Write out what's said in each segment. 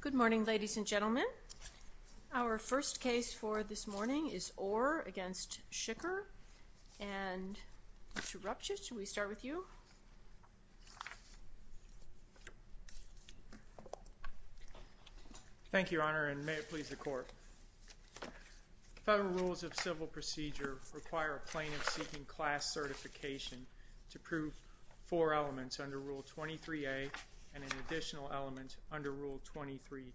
Good morning ladies and gentlemen. Our first case for this morning is Orr v. Shicker. And Mr. Rupchit, should we start with you? Thank you, Your Honor, and may it please the Court. Federal rules of civil procedure require a plaintiff seeking class certification to prove four elements under Rule 23a and an additional element under Rule 23b.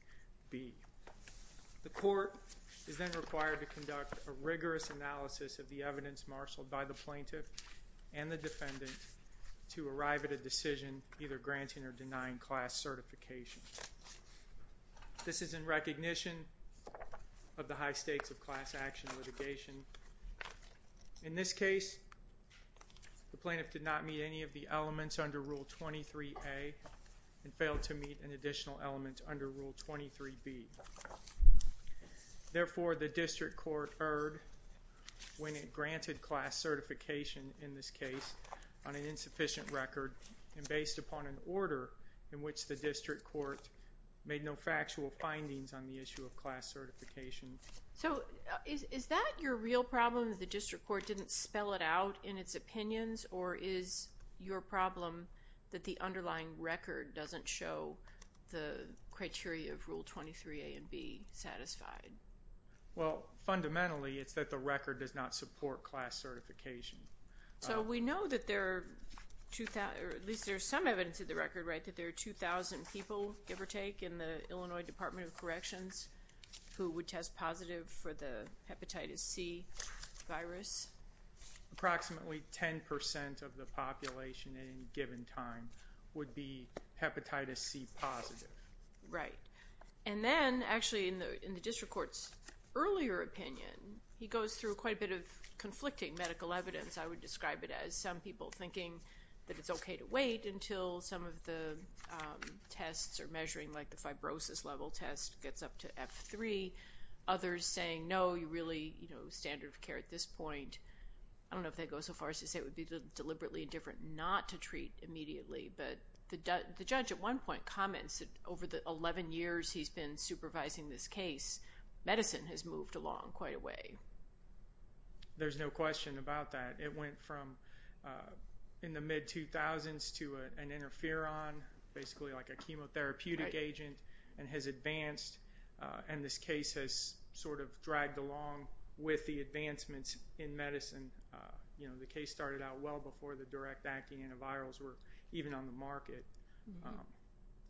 The Court is then required to conduct a rigorous analysis of the evidence marshaled by the plaintiff and the defendant to arrive at a decision either granting or denying class certification. This is in recognition of the high stakes of class action litigation. In this case, the plaintiff did not meet any of the elements under Rule 23a and failed to meet an additional element under Rule 23b. Therefore, the District Court erred when it granted class certification in this case on an insufficient record and based upon an order in which the District Court made no factual findings on the issue of class certification. So is that your real problem that the District Court didn't spell it out in its opinions or is your problem that the underlying record doesn't show the criteria of Rule 23a and b satisfied? Well, fundamentally, it's that the record does not support class certification. So we know that there are at least some evidence in the record that there are 2,000 people give or take in the Illinois Department of Corrections who would test positive for the Hepatitis C virus. Approximately 10% of the population at any given time would be Hepatitis C positive. Right. And then actually in the District Court's earlier opinion, he goes through quite a bit of conflicting medical evidence. I would describe it as some people thinking that it's okay to wait until some of the tests are measuring like the fibrosis level test gets up to F3. Others saying no, you really, you know, standard of care at this point. I don't know if that goes so far as to say it would be deliberately indifferent not to treat immediately, but the judge at one point comments that over the 11 years he's been supervising this case, medicine has moved along quite a way. There's no question about that. It went from in the mid-2000s to an interferon, basically like a chemotherapeutic agent, and has advanced and this case has sort of dragged along with the advancements in medicine. You know, the case started out well before the direct acting antivirals were even on the market.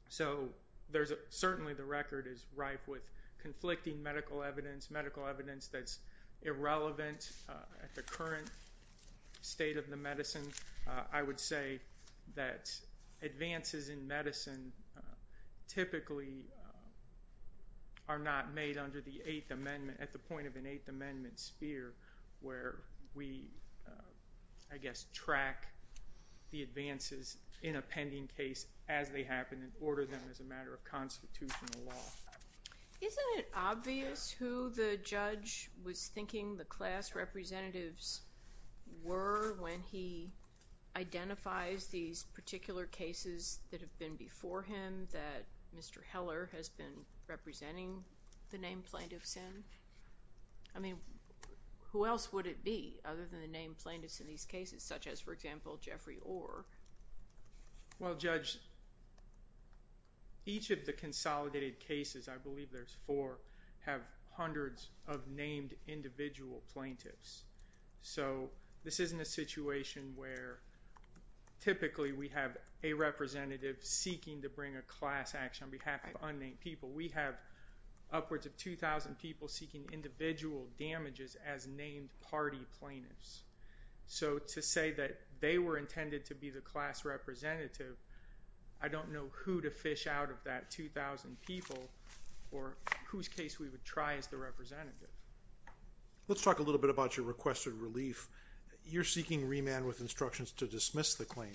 So there's certainly the record is ripe with conflicting medical evidence, medical evidence that's irrelevant at the current state of the medicine. I would say that advances in medicine typically are not made under the Eighth Amendment, at the point of an Eighth Amendment sphere where we, I guess, track the advances in a pending case as they happen and order them as a matter of constitutional law. Isn't it obvious who the judge was thinking the class representatives were when he identifies these particular cases that have been before him that Mr. Heller has been representing the named plaintiffs in? I mean, who else would it be other than the named plaintiffs in these cases, such as, for example, Jeffrey Orr? Well, Judge, each of the consolidated cases, I believe there's four, have hundreds of named individual plaintiffs. So this isn't a situation where typically we have a representative seeking to bring a class action on behalf of unnamed people. We have upwards of 2,000 people seeking individual damages as named party plaintiffs. So to say that they were intended to be the class representative, I don't know who to fish out of that 2,000 people or whose case we would try as the representative. Let's talk a little bit about your requested relief. You're seeking remand with instructions to dismiss the claim.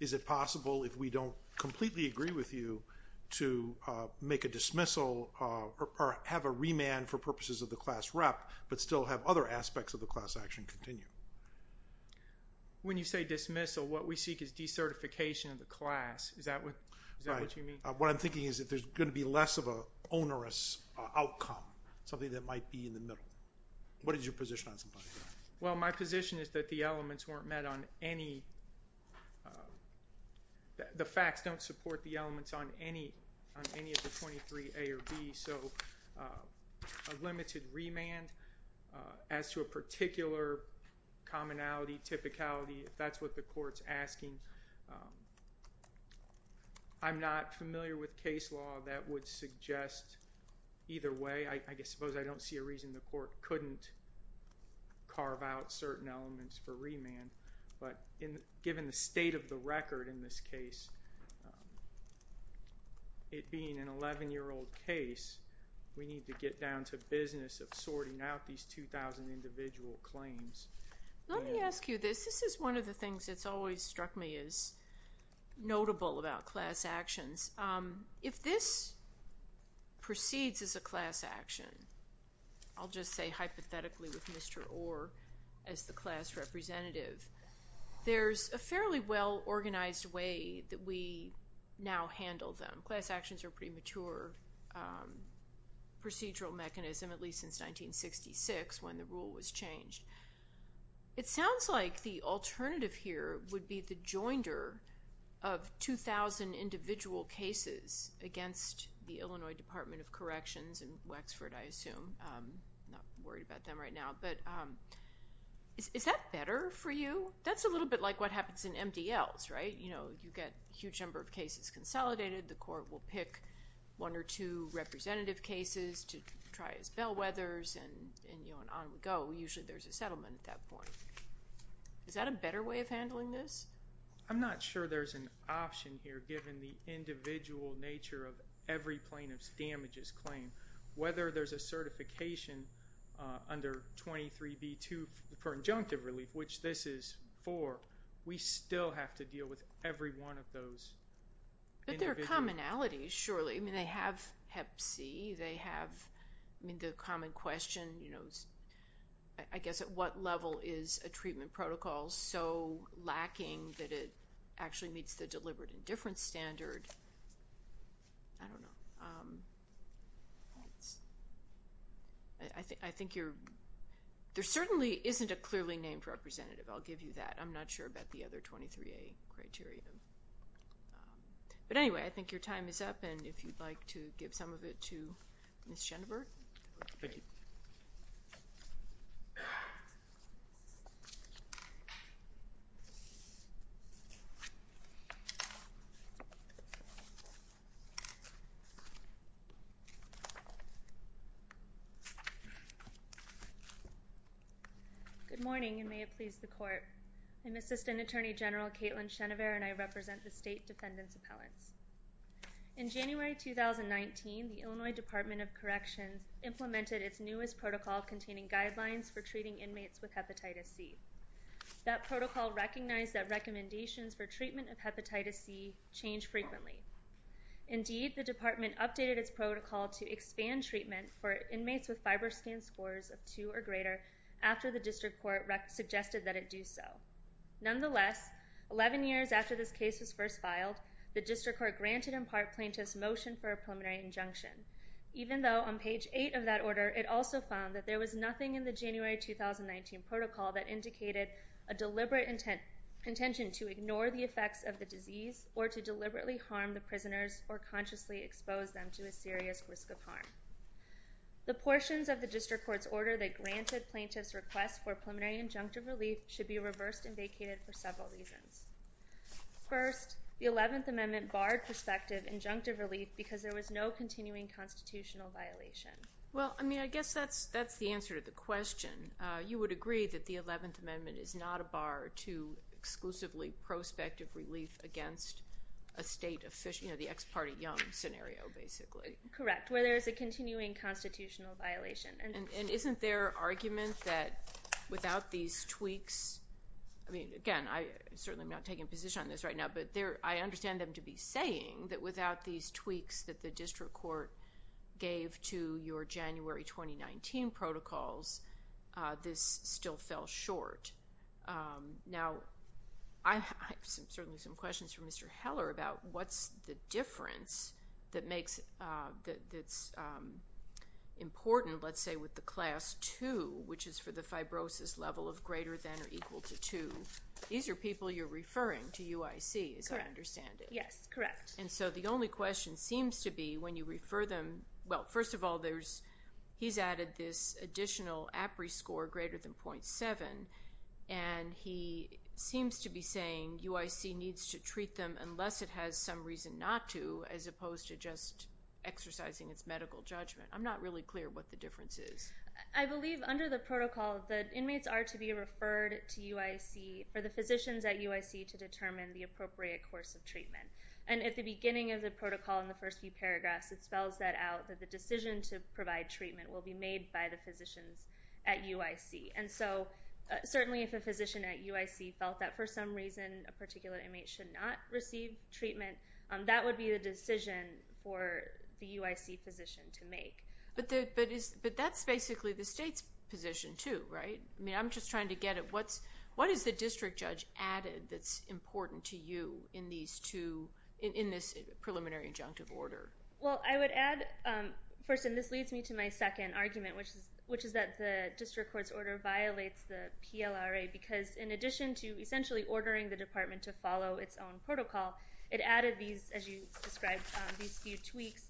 Is it possible, if we don't completely agree with you, to make a dismissal or have a remand for purposes of the class rep, but still have other aspects of the class action continue? When you say dismissal, what we seek is decertification of the class. Is that what you mean? Right. What I'm thinking is that there's going to be less of an onerous outcome, something that might be in the middle. What is your position on some of that? Well, my position is that the elements weren't met on any, the facts don't support the elements on any of the 23A or B. So a limited remand, as to a particular commonality, typicality, that's what the court's asking. I'm not familiar with case law that would suggest either way. I suppose I don't see a reason the court couldn't carve out certain elements for remand. But given the state of the record in this case, it being an 11-year-old case, we need to get down to business of sorting out these 2,000 individual claims. Let me ask you this. This is one of the things that's always struck me as notable about class actions. If this proceeds as a class action, I'll just say hypothetically with Mr. Orr as the class representative, there's a fairly well-organized way that we now handle them. Class actions are a pretty mature procedural mechanism, at least since 1966 when the rule was changed. It sounds like the alternative here would be the joinder of 2,000 individual cases against the Illinois Department of Corrections in Wexford, I assume. I'm not worried about them right now. But is that better for you? That's a little bit like what happens in MDLs, right? You get a huge number of cases consolidated. The court will pick one or two representative cases to try as bellwethers and on we go. Usually there's a settlement at that point. Is that a better way of handling this? I'm not sure there's an option here given the individual nature of every plaintiff's damages claim. Whether there's a certification under 23B2 for injunctive relief, which this is for, we still have to deal with every one of those. But there are commonalities, surely. They have hep C. The common question, I guess, at what level is a treatment protocol so lacking that it actually meets the deliberate indifference standard? I don't know. I think there certainly isn't a clearly named representative. I'll give you that. I'm not sure about the other 23A criteria. But anyway, I think your time is up. And if you'd like to give some of it to Ms. Schoenberg. Thank you. Good morning, and may it please the court. I'm Assistant Attorney General Caitlin Schoenberg, and I represent the State Defendants' Appellants. In January 2019, the Illinois Department of Corrections implemented its newest protocol containing guidelines for treating inmates with hepatitis C. That protocol recognized that recommendations for treatment of hepatitis C change frequently. Indeed, the department updated its protocol to expand treatment for inmates with FibroScan scores of 2 or greater after the district court suggested that it do so. Nonetheless, 11 years after this case was first filed, the district court granted in part plaintiffs' motion for a preliminary injunction. Even though on page 8 of that order, it also found that there was nothing in the January 2019 protocol that indicated a deliberate intention to ignore the effects of the disease or to deliberately harm the prisoners or consciously expose them to a serious risk of harm. The portions of the district court's order that granted plaintiffs' request for preliminary injunctive relief should be reversed and vacated for several reasons. First, the 11th Amendment barred prospective injunctive relief because there was no continuing constitutional violation. Well, I mean, I guess that's the answer to the question. You would agree that the 11th Amendment is not a bar to exclusively prospective relief against a state of, you know, the ex parte young scenario, basically. Correct, where there is a continuing constitutional violation. And isn't there argument that without these tweaks, I mean, again, I certainly am not taking a position on this right now, but I understand them to be saying that without these tweaks that the district court gave to your January 2019 protocols, this still fell short. Now, I have certainly some questions from Mr. Heller about what's the difference that that's important, let's say, with the Class 2, which is for the fibrosis level of greater than or equal to 2. These are people you're referring to UIC, as I understand it. Correct. Yes, correct. And so the only question seems to be when you refer them, well, first of all, there's he's added this additional APRI score greater than .7, and he seems to be saying UIC needs to treat them unless it has some reason not to, as opposed to just exercising its medical judgment. I'm not really clear what the difference is. I believe under the protocol that inmates are to be referred to UIC for the physicians at UIC to determine the appropriate course of treatment. And at the beginning of the protocol in the first few paragraphs, it spells that out, that the decision to provide treatment will be made by the physicians at UIC. And so certainly if a physician at UIC felt that for some reason a particular inmate should not receive treatment, that would be the decision for the UIC physician to make. But that's basically the state's position, too, right? I mean, I'm just trying to get at what is the district judge added that's important to you in this preliminary injunctive order? Well, I would add, first, and this leads me to my second argument, which is that the district court's order violates the PLRA because in addition to essentially ordering the department to follow its own protocol, it added these, as you described, these few tweaks,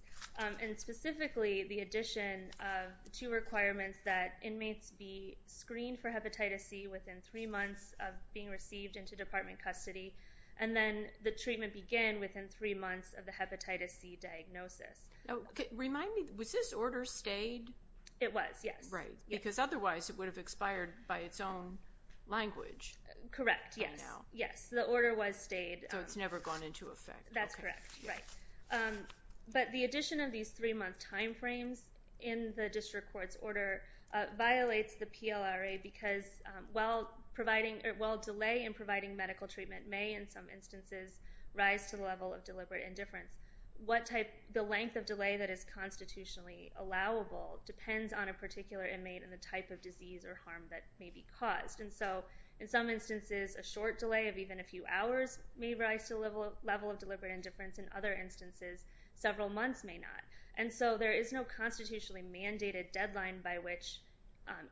and specifically the addition of two requirements that inmates be screened for hepatitis C within three months of being received into department custody, and then the treatment begin within three months of the hepatitis C diagnosis. Remind me, was this order stayed? It was, yes. Right, because otherwise it would have expired by its own language. Correct, yes. Yes, the order was stayed. So it's never gone into effect. That's correct, right. But the addition of these three-month time frames in the district court's order violates the PLRA because while delay in providing medical treatment may, in some instances, rise to the level of deliberate indifference, the length of delay that is constitutionally allowable depends on a particular inmate and the type of disease or harm that may be caused. And so in some instances, a short delay of even a few hours may rise to the level of deliberate indifference. In other instances, several months may not. And so there is no constitutionally mandated deadline by which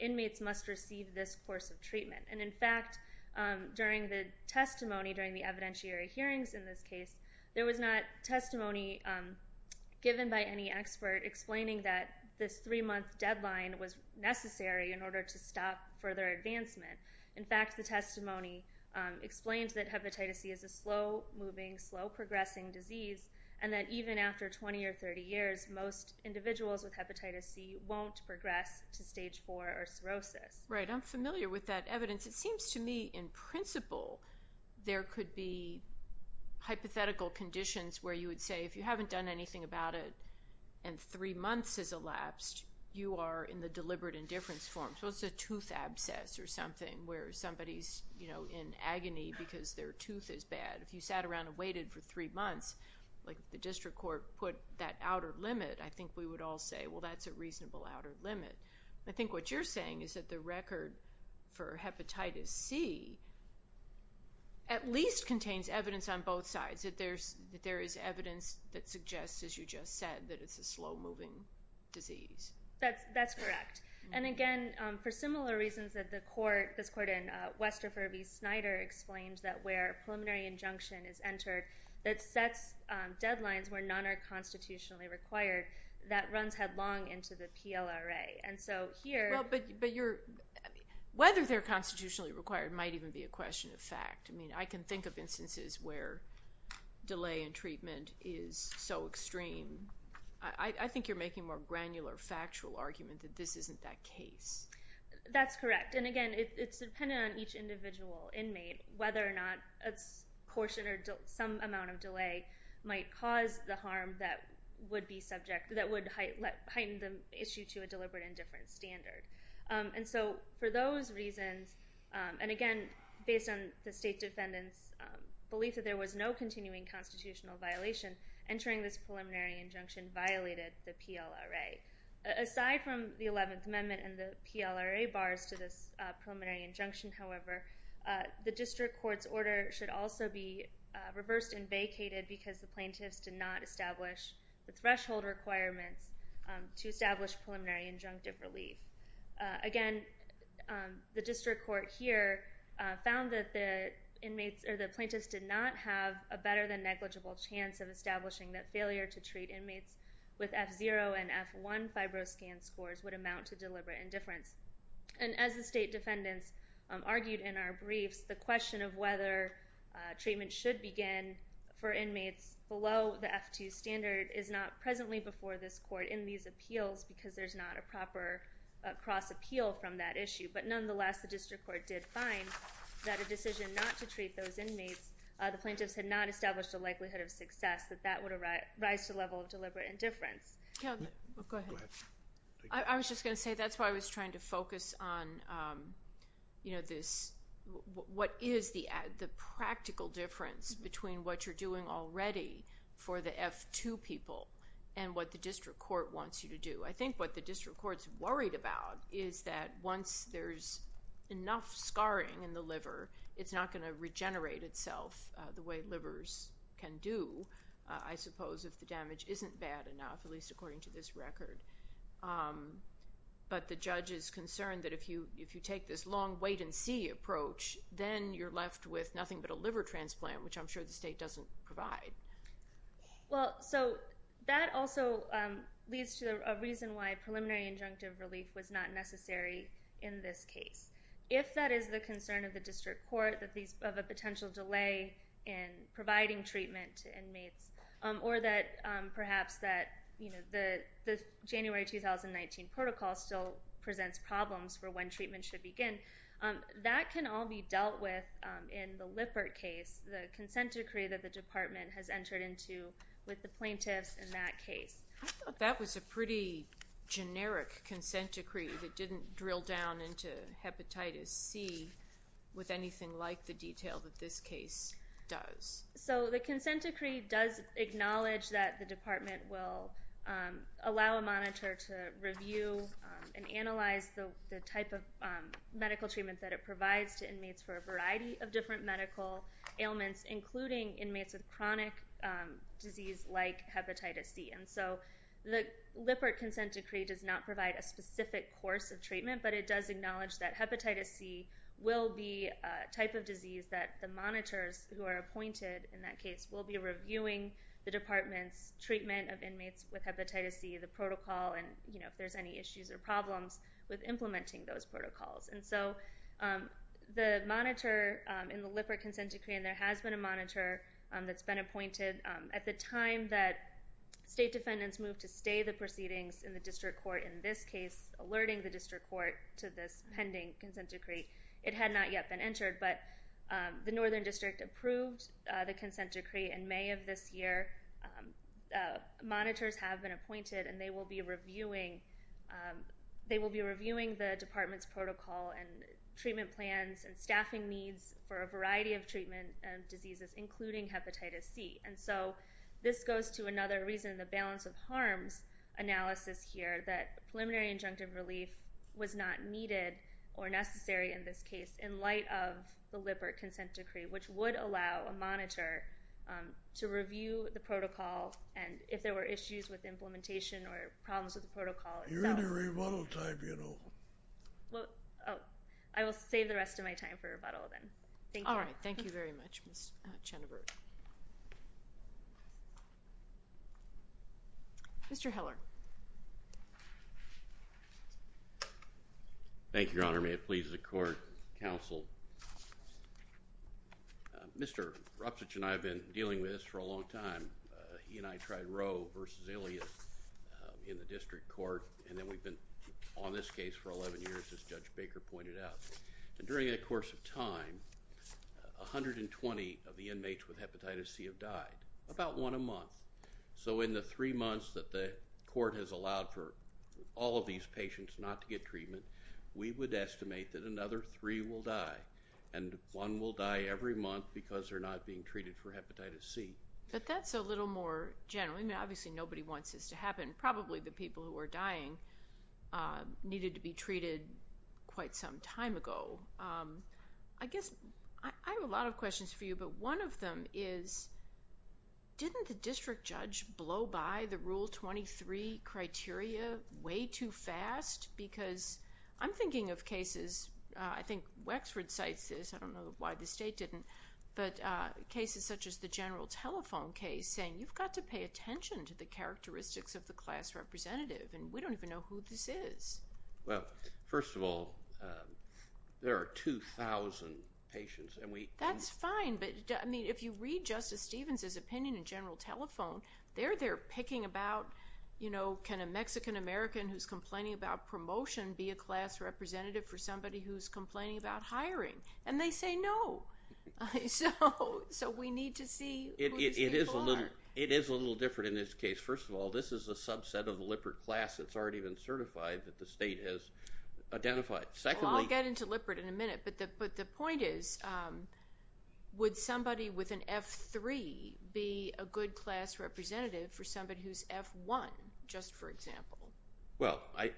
inmates must receive this course of treatment. And in fact, during the testimony, during the evidentiary hearings in this case, there that this three-month deadline was necessary in order to stop further advancement. In fact, the testimony explains that hepatitis C is a slow-moving, slow-progressing disease and that even after 20 or 30 years, most individuals with hepatitis C won't progress to stage 4 or cirrhosis. Right, I'm familiar with that evidence. It seems to me, in principle, there could be hypothetical conditions where you would say if you haven't done anything about it and three months has elapsed, you are in the deliberate indifference form. So it's a tooth abscess or something where somebody's, you know, in agony because their tooth is bad. If you sat around and waited for three months, like the district court put that outer limit, I think we would all say, well, that's a reasonable outer limit. I think what you're saying is that the record for hepatitis C at least contains evidence on both sides, that there is evidence that suggests, as you just said, that it's a slow-moving disease. That's correct. And again, for similar reasons that the court, this court in Westerford v. Snyder, explains that where a preliminary injunction is entered that sets deadlines where none are constitutionally required, that runs headlong into the PLRA. And so here... Well, but you're... Whether they're constitutionally required might even be a question of fact. I mean, I can think of instances where delay in treatment is so extreme. I think you're making a more granular, factual argument that this isn't that case. That's correct. And again, it's dependent on each individual inmate whether or not a portion or some amount of delay might cause the harm that would be subject, that would heighten the issue to a deliberate indifference standard. And so for those reasons, and again, based on the state defendant's belief that there was no continuing constitutional violation, entering this preliminary injunction violated the PLRA. Aside from the 11th Amendment and the PLRA bars to this preliminary injunction, however, the district court's order should also be reversed and vacated because the plaintiffs did not establish the threshold requirements to establish preliminary injunctive relief. Again, the district court here found that the inmates or the plaintiffs did not have a better than negligible chance of establishing that failure to treat inmates with F0 and F1 FibroScan scores would amount to deliberate indifference. And as the state defendants argued in our briefs, the question of whether treatment should begin for inmates below the F2 standard is not presently before this court in these appeals because there's not a proper cross-appeal from that issue. But nonetheless, the district court did find that a decision not to treat those inmates, the plaintiffs had not established a likelihood of success that that would arise to the level of deliberate indifference. Go ahead. I was just going to say that's why I was trying to focus on this, what is the practical difference between what you're doing already for the F2 people and what the district court wants you to do? I think what the district court's worried about is that once there's enough scarring in the liver, it's not going to regenerate itself the way livers can do, I suppose, if the damage isn't bad enough, at least according to this record. But the judge is concerned that if you take this long wait and see approach, then you're going to get a transplant, which I'm sure the state doesn't provide. Well, so that also leads to a reason why preliminary injunctive relief was not necessary in this case. If that is the concern of the district court, of a potential delay in providing treatment to inmates, or perhaps that the January 2019 protocol still presents problems for when the consent decree that the department has entered into with the plaintiffs in that case. I thought that was a pretty generic consent decree that didn't drill down into hepatitis C with anything like the detail that this case does. So the consent decree does acknowledge that the department will allow a monitor to review and analyze the type of medical treatment that it provides to inmates for a variety of different medical ailments, including inmates with chronic disease like hepatitis C. And so the Lippert consent decree does not provide a specific course of treatment, but it does acknowledge that hepatitis C will be a type of disease that the monitors who are appointed in that case will be reviewing the department's treatment of inmates with hepatitis C, the protocol, and if there's any issues or problems with implementing those protocols. And so the monitor in the Lippert consent decree, and there has been a monitor that's been appointed at the time that state defendants moved to stay the proceedings in the district court in this case, alerting the district court to this pending consent decree. It had not yet been entered, but the Northern District approved the consent decree in May of this year. Monitors have been appointed, and they will be reviewing the department's protocol and treatment plans and staffing needs for a variety of treatment and diseases, including hepatitis C. And so this goes to another reason, the balance of harms analysis here, that preliminary injunctive relief was not needed or necessary in this case in light of the Lippert consent decree, which would allow a monitor to review the protocol and if there were issues with implementation or problems with the protocol itself. You're in your rebuttal time, you know. Well, oh, I will save the rest of my time for rebuttal then. Thank you. All right. Thank you very much, Ms. Chenevert. Mr. Heller. Thank you, Your Honor. May it please the court, counsel. Mr. Ropsitch and I have been dealing with this for a long time. He and I tried Roe versus Ilias in the district court, and then we've been on this case for 11 years, as Judge Baker pointed out. And during that course of time, 120 of the inmates with hepatitis C have died, about one a month. So in the three months that the court has allowed for all of these patients not to get treated for hepatitis C, we estimate that another three will die. And one will die every month because they're not being treated for hepatitis C. But that's a little more general. I mean, obviously, nobody wants this to happen. Probably the people who are dying needed to be treated quite some time ago. I guess I have a lot of questions for you, but one of them is didn't the district judge blow by the Rule 23 criteria way too fast? Because I'm thinking of cases, I think Wexford cites this. I don't know why the state didn't. But cases such as the General Telephone case saying, you've got to pay attention to the characteristics of the class representative, and we don't even know who this is. Well, first of all, there are 2,000 patients. That's fine. But, I mean, if you read Justice Stevens' opinion in General Telephone, they're there picking about, you know, can a Mexican-American who's complaining about promotion be a class representative for somebody who's complaining about hiring? And they say no. So we need to see who these people are. It is a little different in this case. First of all, this is a subset of the Lippert class that's already been certified that the state has identified. Well, I'll get into Lippert in a minute. But the point is, would somebody with an F3 be a good class representative for somebody who's F1, just for example? Well, it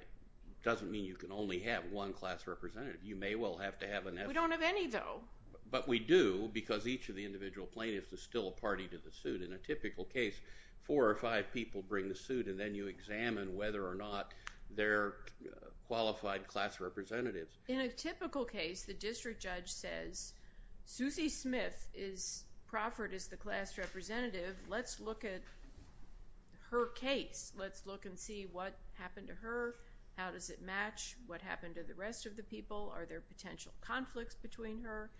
doesn't mean you can only have one class representative. You may well have to have an F2. We don't have any, though. But we do, because each of the individual plaintiffs is still a party to the suit. In a typical case, four or five people bring the suit, and then you examine whether or not they're qualified class representatives. In a typical case, the district judge says, Suzy Smith is proffered as the class representative. Let's look at her case. Let's look and see what happened to her. How does it match? What happened to the rest of the people? Are there potential conflicts between her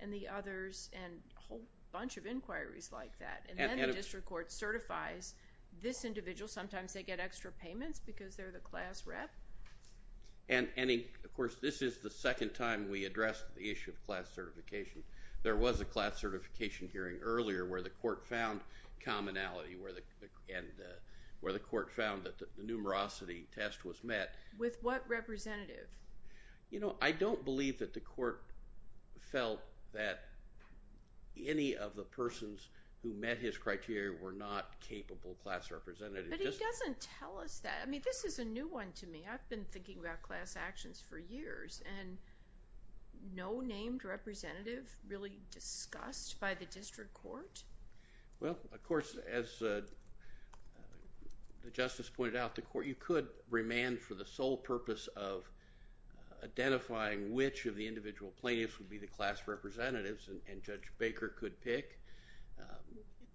and the others? And a whole bunch of inquiries like that. And then the district court certifies this individual. Sometimes they get extra payments because they're the class rep. And, of course, this is the second time we addressed the issue of class certification. There was a class certification hearing earlier where the court found commonality, where the court found that the numerosity test was met. With what representative? I don't believe that the court felt that any of the persons who met his criteria were not capable class representatives. But he doesn't tell us that. I mean, this is a new one to me. I've been thinking about class actions for years, and no named representative really discussed by the district court? Well, of course, as the justice pointed out, the court, you could remand for the sole purpose of identifying which of the individual plaintiffs would be the class representatives, and Judge Baker could pick.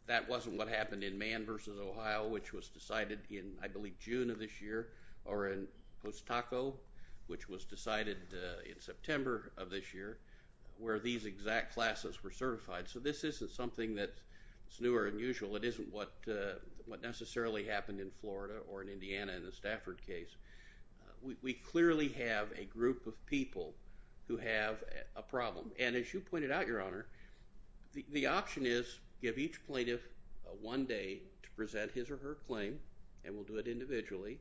That wasn't what happened in Mann v. Ohio, which was decided in, I believe, June of this year, or in Post Taco, which was decided in September of this year, where these exact classes were certified. So this isn't something that's new or unusual. It isn't what necessarily happened in Florida or in Indiana in the Stafford case. We clearly have a group of people who have a problem. And as you pointed out, Your Honor, the option is give each plaintiff one day to present his or her claim, and we'll do it individually,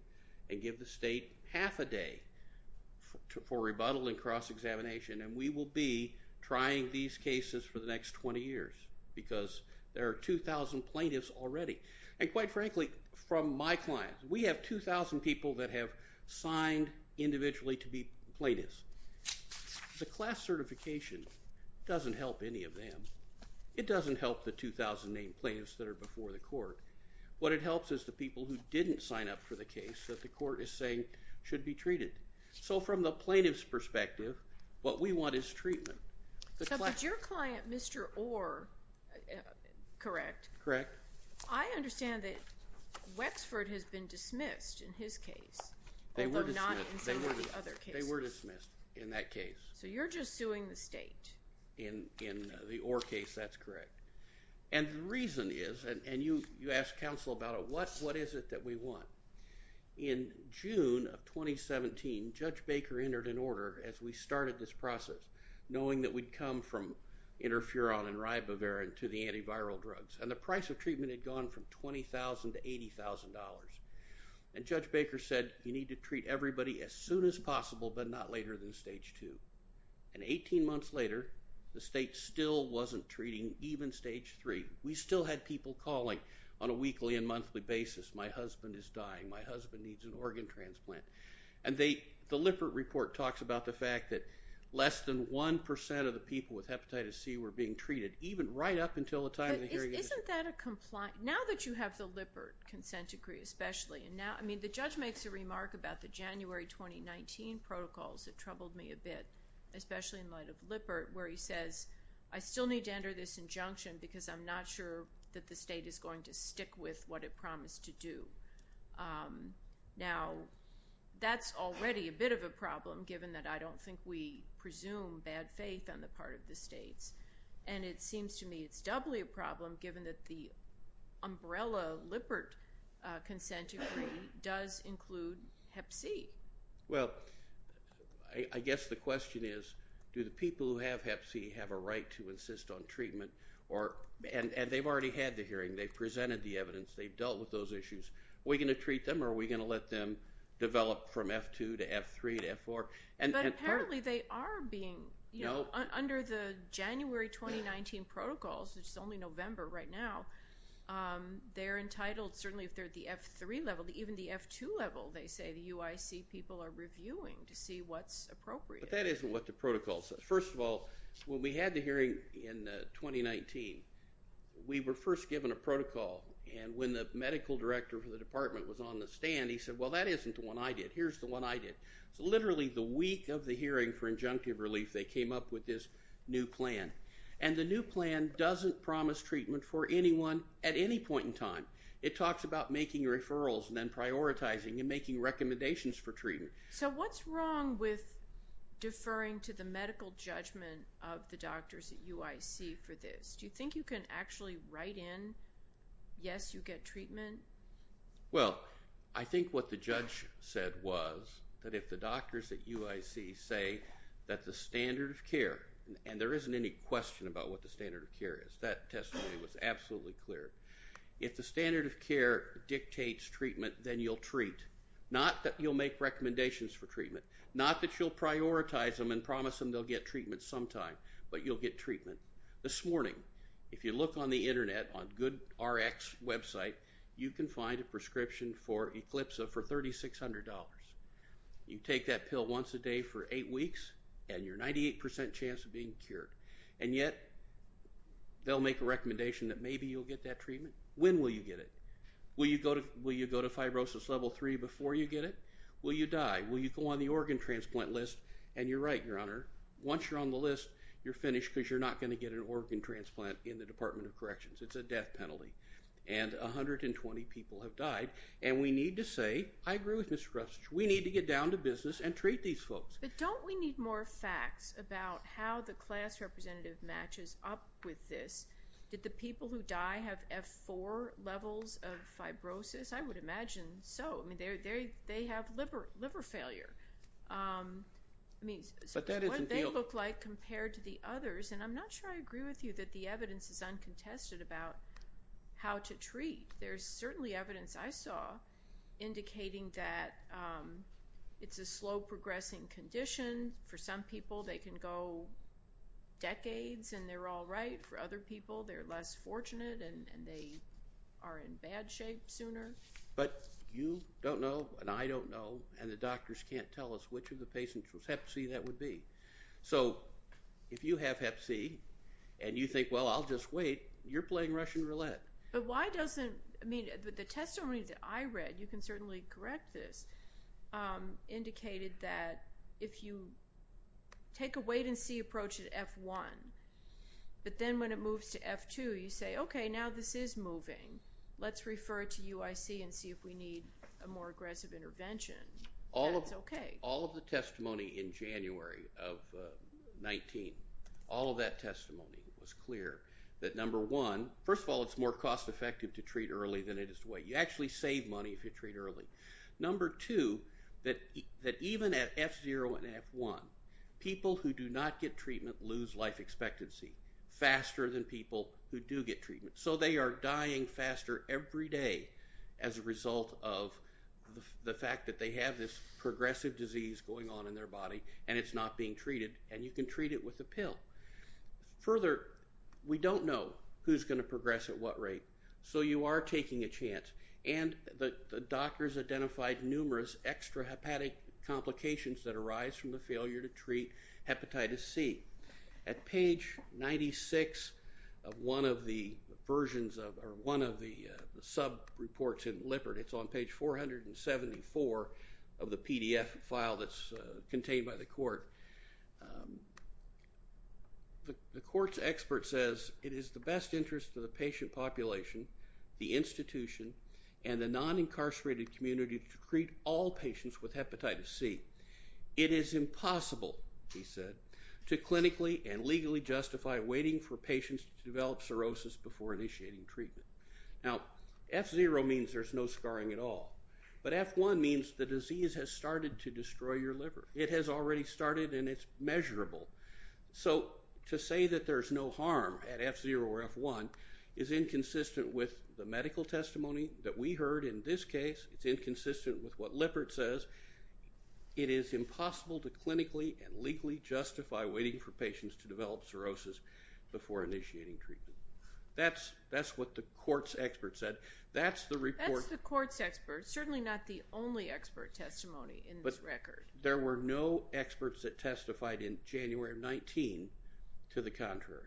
and give the state half a day for rebuttal and cross-examination. And we will be trying these cases for the next 20 years, because there are 2,000 plaintiffs already. And quite frankly, from my clients, we have 2,000 people that have signed individually to be plaintiffs. The class certification doesn't help any of them. It doesn't help the 2,000 named plaintiffs that are before the court. What it helps is the people who didn't sign up for the case that the court is saying should be treated. So from the plaintiff's perspective, what we want is treatment. So, but your client, Mr. Orr, correct? Correct. I understand that Wexford has been dismissed in his case, although not in some of the other cases. They were dismissed in that case. So you're just suing the state. In the Orr case, that's correct. And the reason is, and you asked counsel about it, what is it that we want? In June of 2017, Judge Baker entered an order as we started this process, knowing that we'd come from interferon and ribavirin to the antiviral drugs. And the price of treatment had gone from $20,000 to $80,000. And Judge Baker said, you need to treat everybody as soon as possible, but not later than stage two. And 18 months later, the state still wasn't treating, even stage three. We still had people calling on a weekly and monthly basis. My husband is dying. My husband needs an organ transplant. And the Lippert Report talks about the fact that less than 1% of the people with hepatitis C were being treated, even right up until the time of the hearing. Now that you have the Lippert consent decree, especially, and now, I mean, the judge makes a remark about the January 2019 protocols that troubled me a bit, especially in light of Lippert, where he says, I still need to enter this injunction because I'm not sure that the state is going to stick with what it promised to do. Now, that's already a bit of a problem, given that I don't think we presume bad faith on the part of the states. And it seems to me it's doubly a problem, given that the umbrella Lippert consent decree does include hep C. Well, I guess the question is, do the people who have hep C have a right to insist on treatment? And they've already had the hearing. They've presented the evidence. They've dealt with those issues. Are we going to treat them, or are we going to let them develop from F2 to F3 to F4? But apparently they are being, you know, under the January 2019 protocols, which is only November right now, they're entitled, certainly if they're at the F3 level, even the F2 level, they say, the UIC people are reviewing to see what's appropriate. But that isn't what the protocol says. First of all, when we had the hearing in 2019, we were first given a protocol. And when the medical director of the department was on the stand, he said, well, that isn't the one I did. Here's the one I did. So literally the week of the hearing for injunctive relief, they came up with this new plan. And the new plan doesn't promise treatment for anyone at any point in time. It talks about making referrals and then prioritizing and making recommendations for treatment. So what's wrong with deferring to the medical judgment of the doctors at UIC for this? Do you think you can actually write in, yes, you get treatment? Well, I think what the judge said was that if the doctors at UIC say that the standard of care, and there isn't any question about what the standard of care is. That testimony was absolutely clear. If the standard of care dictates treatment, then you'll treat. Not that you'll make recommendations for treatment. Not that you'll prioritize them and promise them they'll get treatment sometime. But you'll get treatment. This morning, if you look on the internet on GoodRx website, you can find a prescription for eclipsa for $3,600. You take that pill once a day for eight weeks, and you're 98% chance of being cured. And yet, they'll make a recommendation that maybe you'll get that treatment. When will you get it? Will you go to fibrosis level three before you get it? Will you die? Will you go on the organ transplant list? And you're right, Your Honor. Once you're on the list, you're finished because you're not going to get an organ transplant in the Department of Corrections. It's a death penalty. And 120 people have died. And we need to say, I agree with Mr. Crutch. We need to get down to business and treat these folks. But don't we need more facts about how the class representative matches up with this? Did the people who die have F4 levels of fibrosis? I would imagine so. They have liver failure. I mean, what do they look like compared to the others? And I'm not sure I agree with you that the evidence is uncontested about how to treat. There's certainly evidence I saw indicating that it's a slow-progressing condition. For some people, they can go decades, and they're all right. For other people, they're less fortunate, and they are in bad shape sooner. But you don't know, and I don't know, and the doctors can't tell us which of the patients was Hep C that would be. So if you have Hep C and you think, well, I'll just wait, you're playing Russian roulette. But why doesn't the testimony that I read, you can certainly correct this, indicated that if you take a wait-and-see approach at F1, but then when it moves to F2, you say, okay, now this is moving. Let's refer to UIC and see if we need a more aggressive intervention. That's okay. All of the testimony in January of 19, all of that testimony was clear that, number one, first of all, it's more cost-effective to treat early than it is to wait. You actually save money if you treat early. Number two, that even at F0 and F1, people who do not get treatment lose life expectancy faster than people who do get treatment. So they are dying faster every day as a result of the fact that they have this progressive disease going on in their body and it's not being treated, and you can treat it with a pill. Further, we don't know who's going to progress at what rate, so you are taking a chance. And the doctors identified numerous extrahepatic complications that arise from the failure to treat Hepatitis C. At page 96 of one of the sub-reports in Lippert, it's on page 474 of the PDF file that's contained by the court, the court's expert says, it is the best interest of the patient population, the institution, and the non-incarcerated community to treat all patients with Hepatitis C. It is impossible, he said, to clinically and legally justify waiting for patients to develop cirrhosis before initiating treatment. Now, F0 means there's no scarring at all, but F1 means the disease has started to destroy your liver. It has already started and it's measurable. So to say that there's no harm at F0 or F1 is inconsistent with the medical testimony that we heard in this case. It's inconsistent with what Lippert says. It is impossible to clinically and legally justify waiting for patients to develop cirrhosis before initiating treatment. That's what the court's expert said. That's the report. That's the court's expert, certainly not the only expert testimony in this record. But there were no experts that testified in January of 19 to the contrary.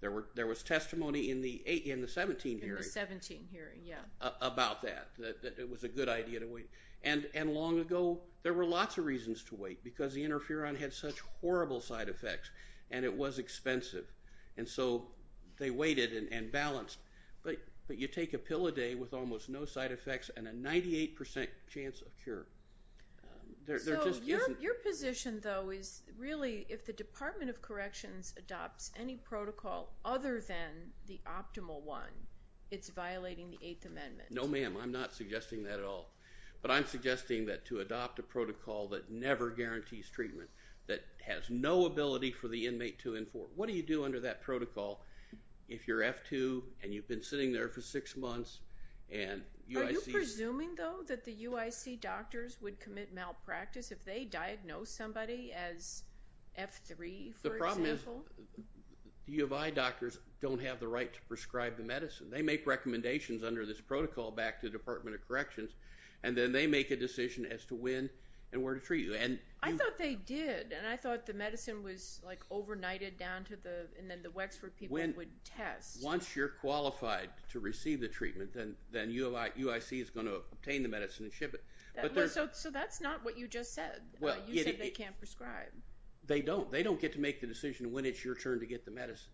There was testimony in the 17 hearing. In the 17 hearing, yeah. About that, that it was a good idea to wait. And long ago, there were lots of reasons to wait because the interferon had such horrible side effects and it was expensive. And so they waited and balanced. But you take a pill a day with almost no side effects and a 98% chance of cure. So your position, though, is really if the Department of Corrections adopts any protocol other than the optimal one, it's violating the Eighth Amendment. No, ma'am. I'm not suggesting that at all. But I'm suggesting that to adopt a protocol that never guarantees treatment, that has no ability for the inmate to inform. What do you do under that protocol if you're F2 and you've been sitting there for six months and UIC? Are you presuming, though, that the UIC doctors would commit malpractice if they diagnosed somebody as F3, for example? U of I doctors don't have the right to prescribe the medicine. They make recommendations under this protocol back to the Department of Corrections, and then they make a decision as to when and where to treat you. I thought they did, and I thought the medicine was, like, overnighted down to the and then the Wexford people would test. Once you're qualified to receive the treatment, then UIC is going to obtain the medicine and ship it. So that's not what you just said. You said they can't prescribe. They don't. They don't get to make the decision when it's your turn to get the medicine.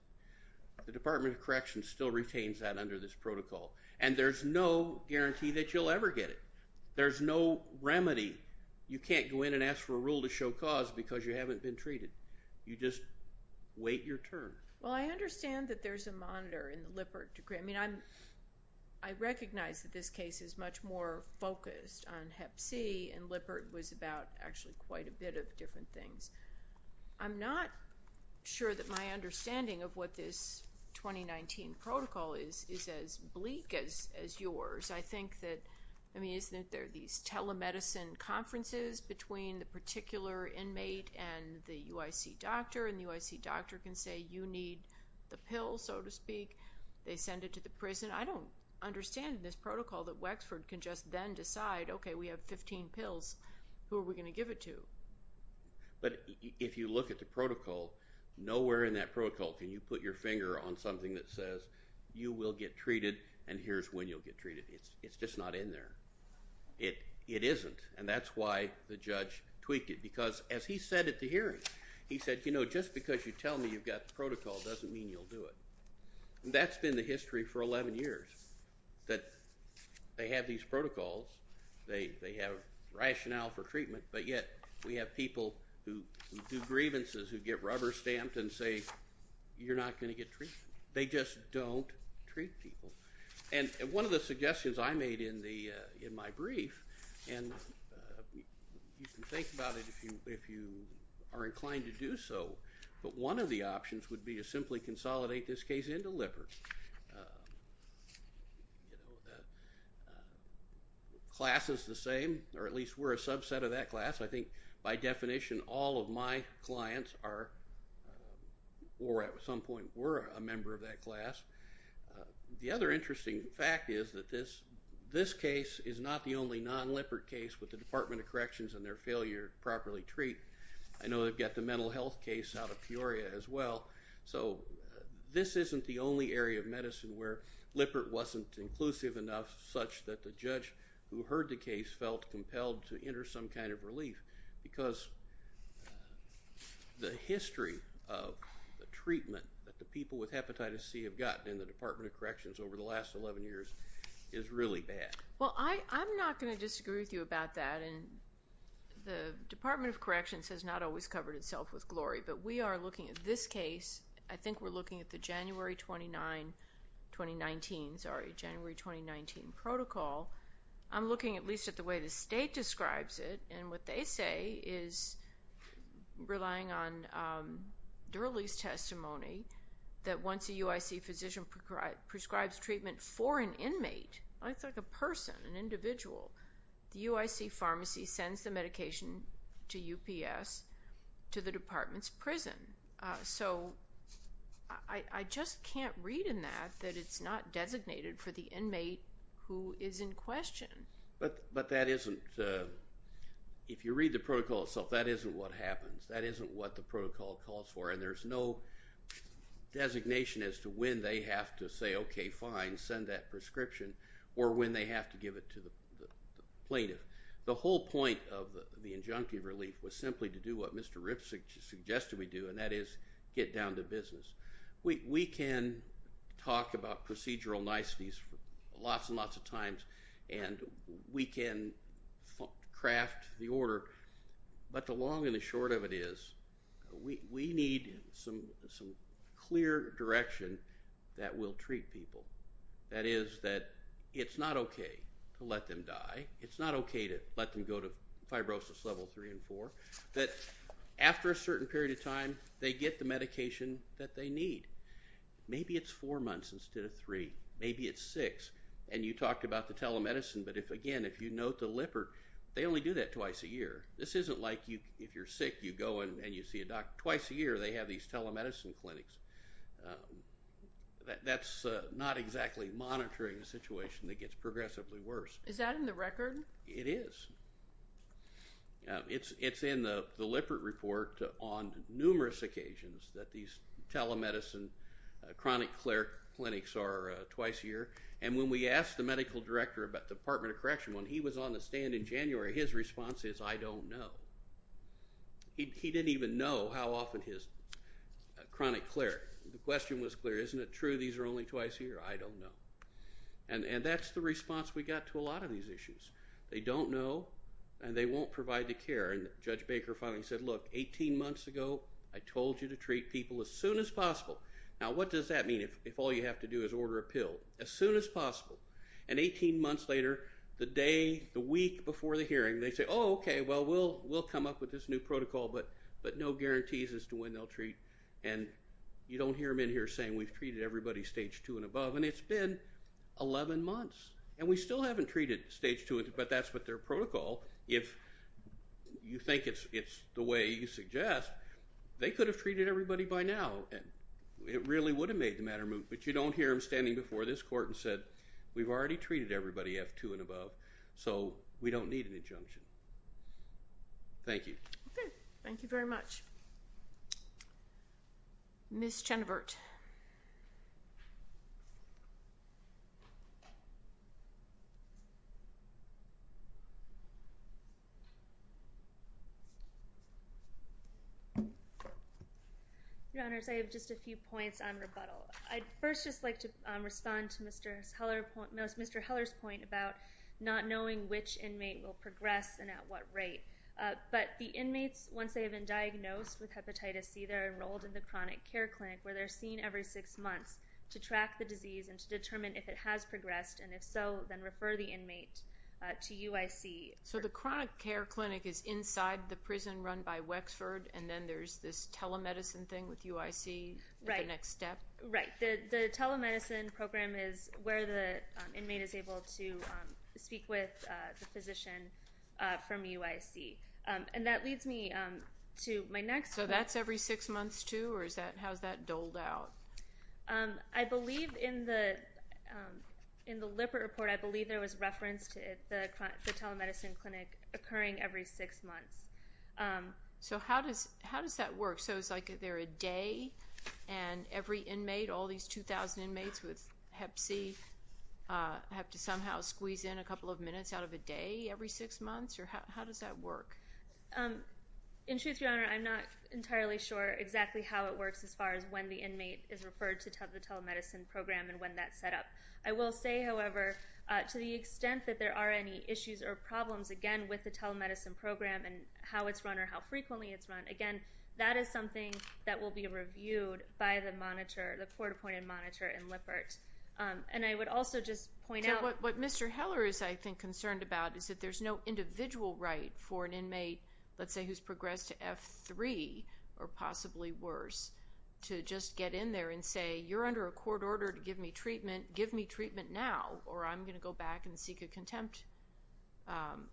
The Department of Corrections still retains that under this protocol, and there's no guarantee that you'll ever get it. There's no remedy. You can't go in and ask for a rule to show cause because you haven't been treated. You just wait your turn. Well, I understand that there's a monitor in the Lippert degree. I mean, I recognize that this case is much more focused on Hep C, and Lippert was about actually quite a bit of different things. I'm not sure that my understanding of what this 2019 protocol is is as bleak as yours. I think that, I mean, isn't it there are these telemedicine conferences between the particular inmate and the UIC doctor, and the UIC doctor can say you need the pill, so to speak. They send it to the prison. I don't understand in this protocol that Wexford can just then decide, okay, we have 15 pills. Who are we going to give it to? But if you look at the protocol, nowhere in that protocol can you put your finger on something that says you will get treated and here's when you'll get treated. It's just not in there. It isn't, and that's why the judge tweaked it because, as he said at the hearing, he said, you know, just because you tell me you've got the protocol doesn't mean you'll do it. That's been the history for 11 years, that they have these protocols. They have rationale for treatment, but yet we have people who do grievances, who get rubber stamped and say you're not going to get treated. They just don't treat people. And one of the suggestions I made in my brief, and you can think about it if you are inclined to do so, but one of the options would be to simply consolidate this case into Lippert. Class is the same, or at least we're a subset of that class. I think by definition all of my clients are, or at some point were, a member of that class. The other interesting fact is that this case is not the only non-Lippert case with the Department of Corrections and their failure to properly treat. I know they've got the mental health case out of Peoria as well. So this isn't the only area of medicine where Lippert wasn't inclusive enough such that the judge who heard the case felt compelled to enter some kind of relief because the history of the treatment that the people with hepatitis C have gotten in the Department of Corrections over the last 11 years is really bad. Well, I'm not going to disagree with you about that. The Department of Corrections has not always covered itself with glory, but we are looking at this case. I think we're looking at the January 2019 protocol. I'm looking at least at the way the state describes it, and what they say is relying on Durley's testimony that once a UIC physician prescribes treatment for an inmate, like a person, an individual, the UIC pharmacy sends the medication to UPS to the department's prison. So I just can't read in that that it's not designated for the inmate who is in question. But that isn't, if you read the protocol itself, that isn't what happens. That isn't what the protocol calls for, and there's no designation as to when they have to say, okay, fine, send that prescription, or when they have to give it to the plaintiff. The whole point of the injunctive relief was simply to do what Mr. Ripp suggested we do, and that is get down to business. We can talk about procedural niceties lots and lots of times, and we can craft the order, but the long and the short of it is we need some clear direction that we'll treat people. That is that it's not okay to let them die. It's not okay to let them go to fibrosis level three and four. That after a certain period of time, they get the medication that they need. Maybe it's four months instead of three. Maybe it's six, and you talked about the telemedicine, but if, again, if you note the Lippert, they only do that twice a year. This isn't like if you're sick, you go and you see a doctor twice a year. They have these telemedicine clinics. That's not exactly monitoring a situation that gets progressively worse. Is that in the record? It is. It's in the Lippert report on numerous occasions that these telemedicine chronic clinics are twice a year, and when we asked the medical director at the Department of Correction, when he was on the stand in January, his response is, I don't know. He didn't even know how often his chronic clear, the question was clear. Isn't it true these are only twice a year? I don't know, and that's the response we got to a lot of these issues. They don't know, and they won't provide the care, and Judge Baker finally said, look, 18 months ago, I told you to treat people as soon as possible. Now, what does that mean if all you have to do is order a pill? As soon as possible, and 18 months later, the day, the week before the hearing, they say, oh, okay, well, we'll come up with this new protocol, but no guarantees as to when they'll treat, and you don't hear them in here saying we've treated everybody stage 2 and above, and it's been 11 months, and we still haven't treated stage 2, but that's what their protocol, if you think it's the way you suggest, they could have treated everybody by now, and it really would have made the matter move, but you don't hear them standing before this court and said, we've already treated everybody F2 and above, so we don't need an injunction. Thank you. Okay. Thank you very much. Ms. Chenevert. Your Honors, I have just a few points on rebuttal. I'd first just like to respond to Mr. Heller's point about not knowing which inmate will progress and at what rate, but the inmates, once they have been diagnosed with hepatitis C, they're enrolled in the chronic care clinic where they're seen every six months to track the disease and to determine if it has progressed, and if so, then refer the inmate to UIC. So the chronic care clinic is inside the prison run by Wexford, and then there's this telemedicine thing with UIC, the next step? Right. The telemedicine program is where the inmate is able to speak with the physician from UIC, and that leads me to my next point. So that's every six months too, or how is that doled out? I believe in the LIPR report, I believe there was reference to the telemedicine clinic occurring every six months. So how does that work? So is it like they're a day, and every inmate, all these 2,000 inmates with hep C, have to somehow squeeze in a couple of minutes out of a day every six months, or how does that work? In truth, Your Honor, I'm not entirely sure exactly how it works as far as when the inmate is referred to the telemedicine program and when that's set up. I will say, however, to the extent that there are any issues or problems, again, with the telemedicine program and how it's run or how frequently it's run, again, that is something that will be reviewed by the monitor, the court-appointed monitor in LIPRT. And I would also just point out what Mr. Heller is, I think, concerned about is that there's no individual right for an inmate, let's say who's progressed to F3 or possibly worse, to just get in there and say, you're under a court order to give me treatment, give me treatment now, or I'm going to go back and seek a contempt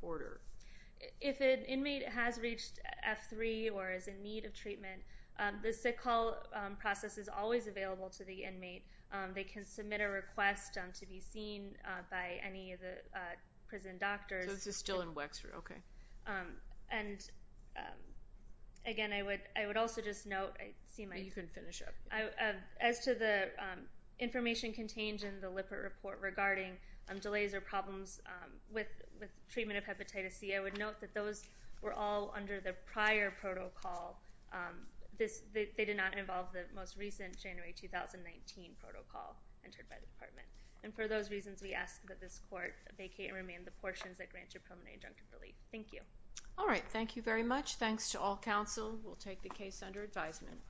order. If an inmate has reached F3 or is in need of treatment, the sick call process is always available to the inmate. They can submit a request to be seen by any of the prison doctors. So this is still in Wexford, okay. And, again, I would also just note, I see my... You can finish up. As to the information contained in the LIPRT report regarding delays or problems with treatment of hepatitis C, I would note that those were all under the prior protocol. They did not involve the most recent January 2019 protocol entered by the department. And for those reasons, we ask that this court vacate and remain the portions that grant your preliminary injunctive relief. Thank you. All right. Thank you very much. Thanks to all counsel. We'll take the case under advisement.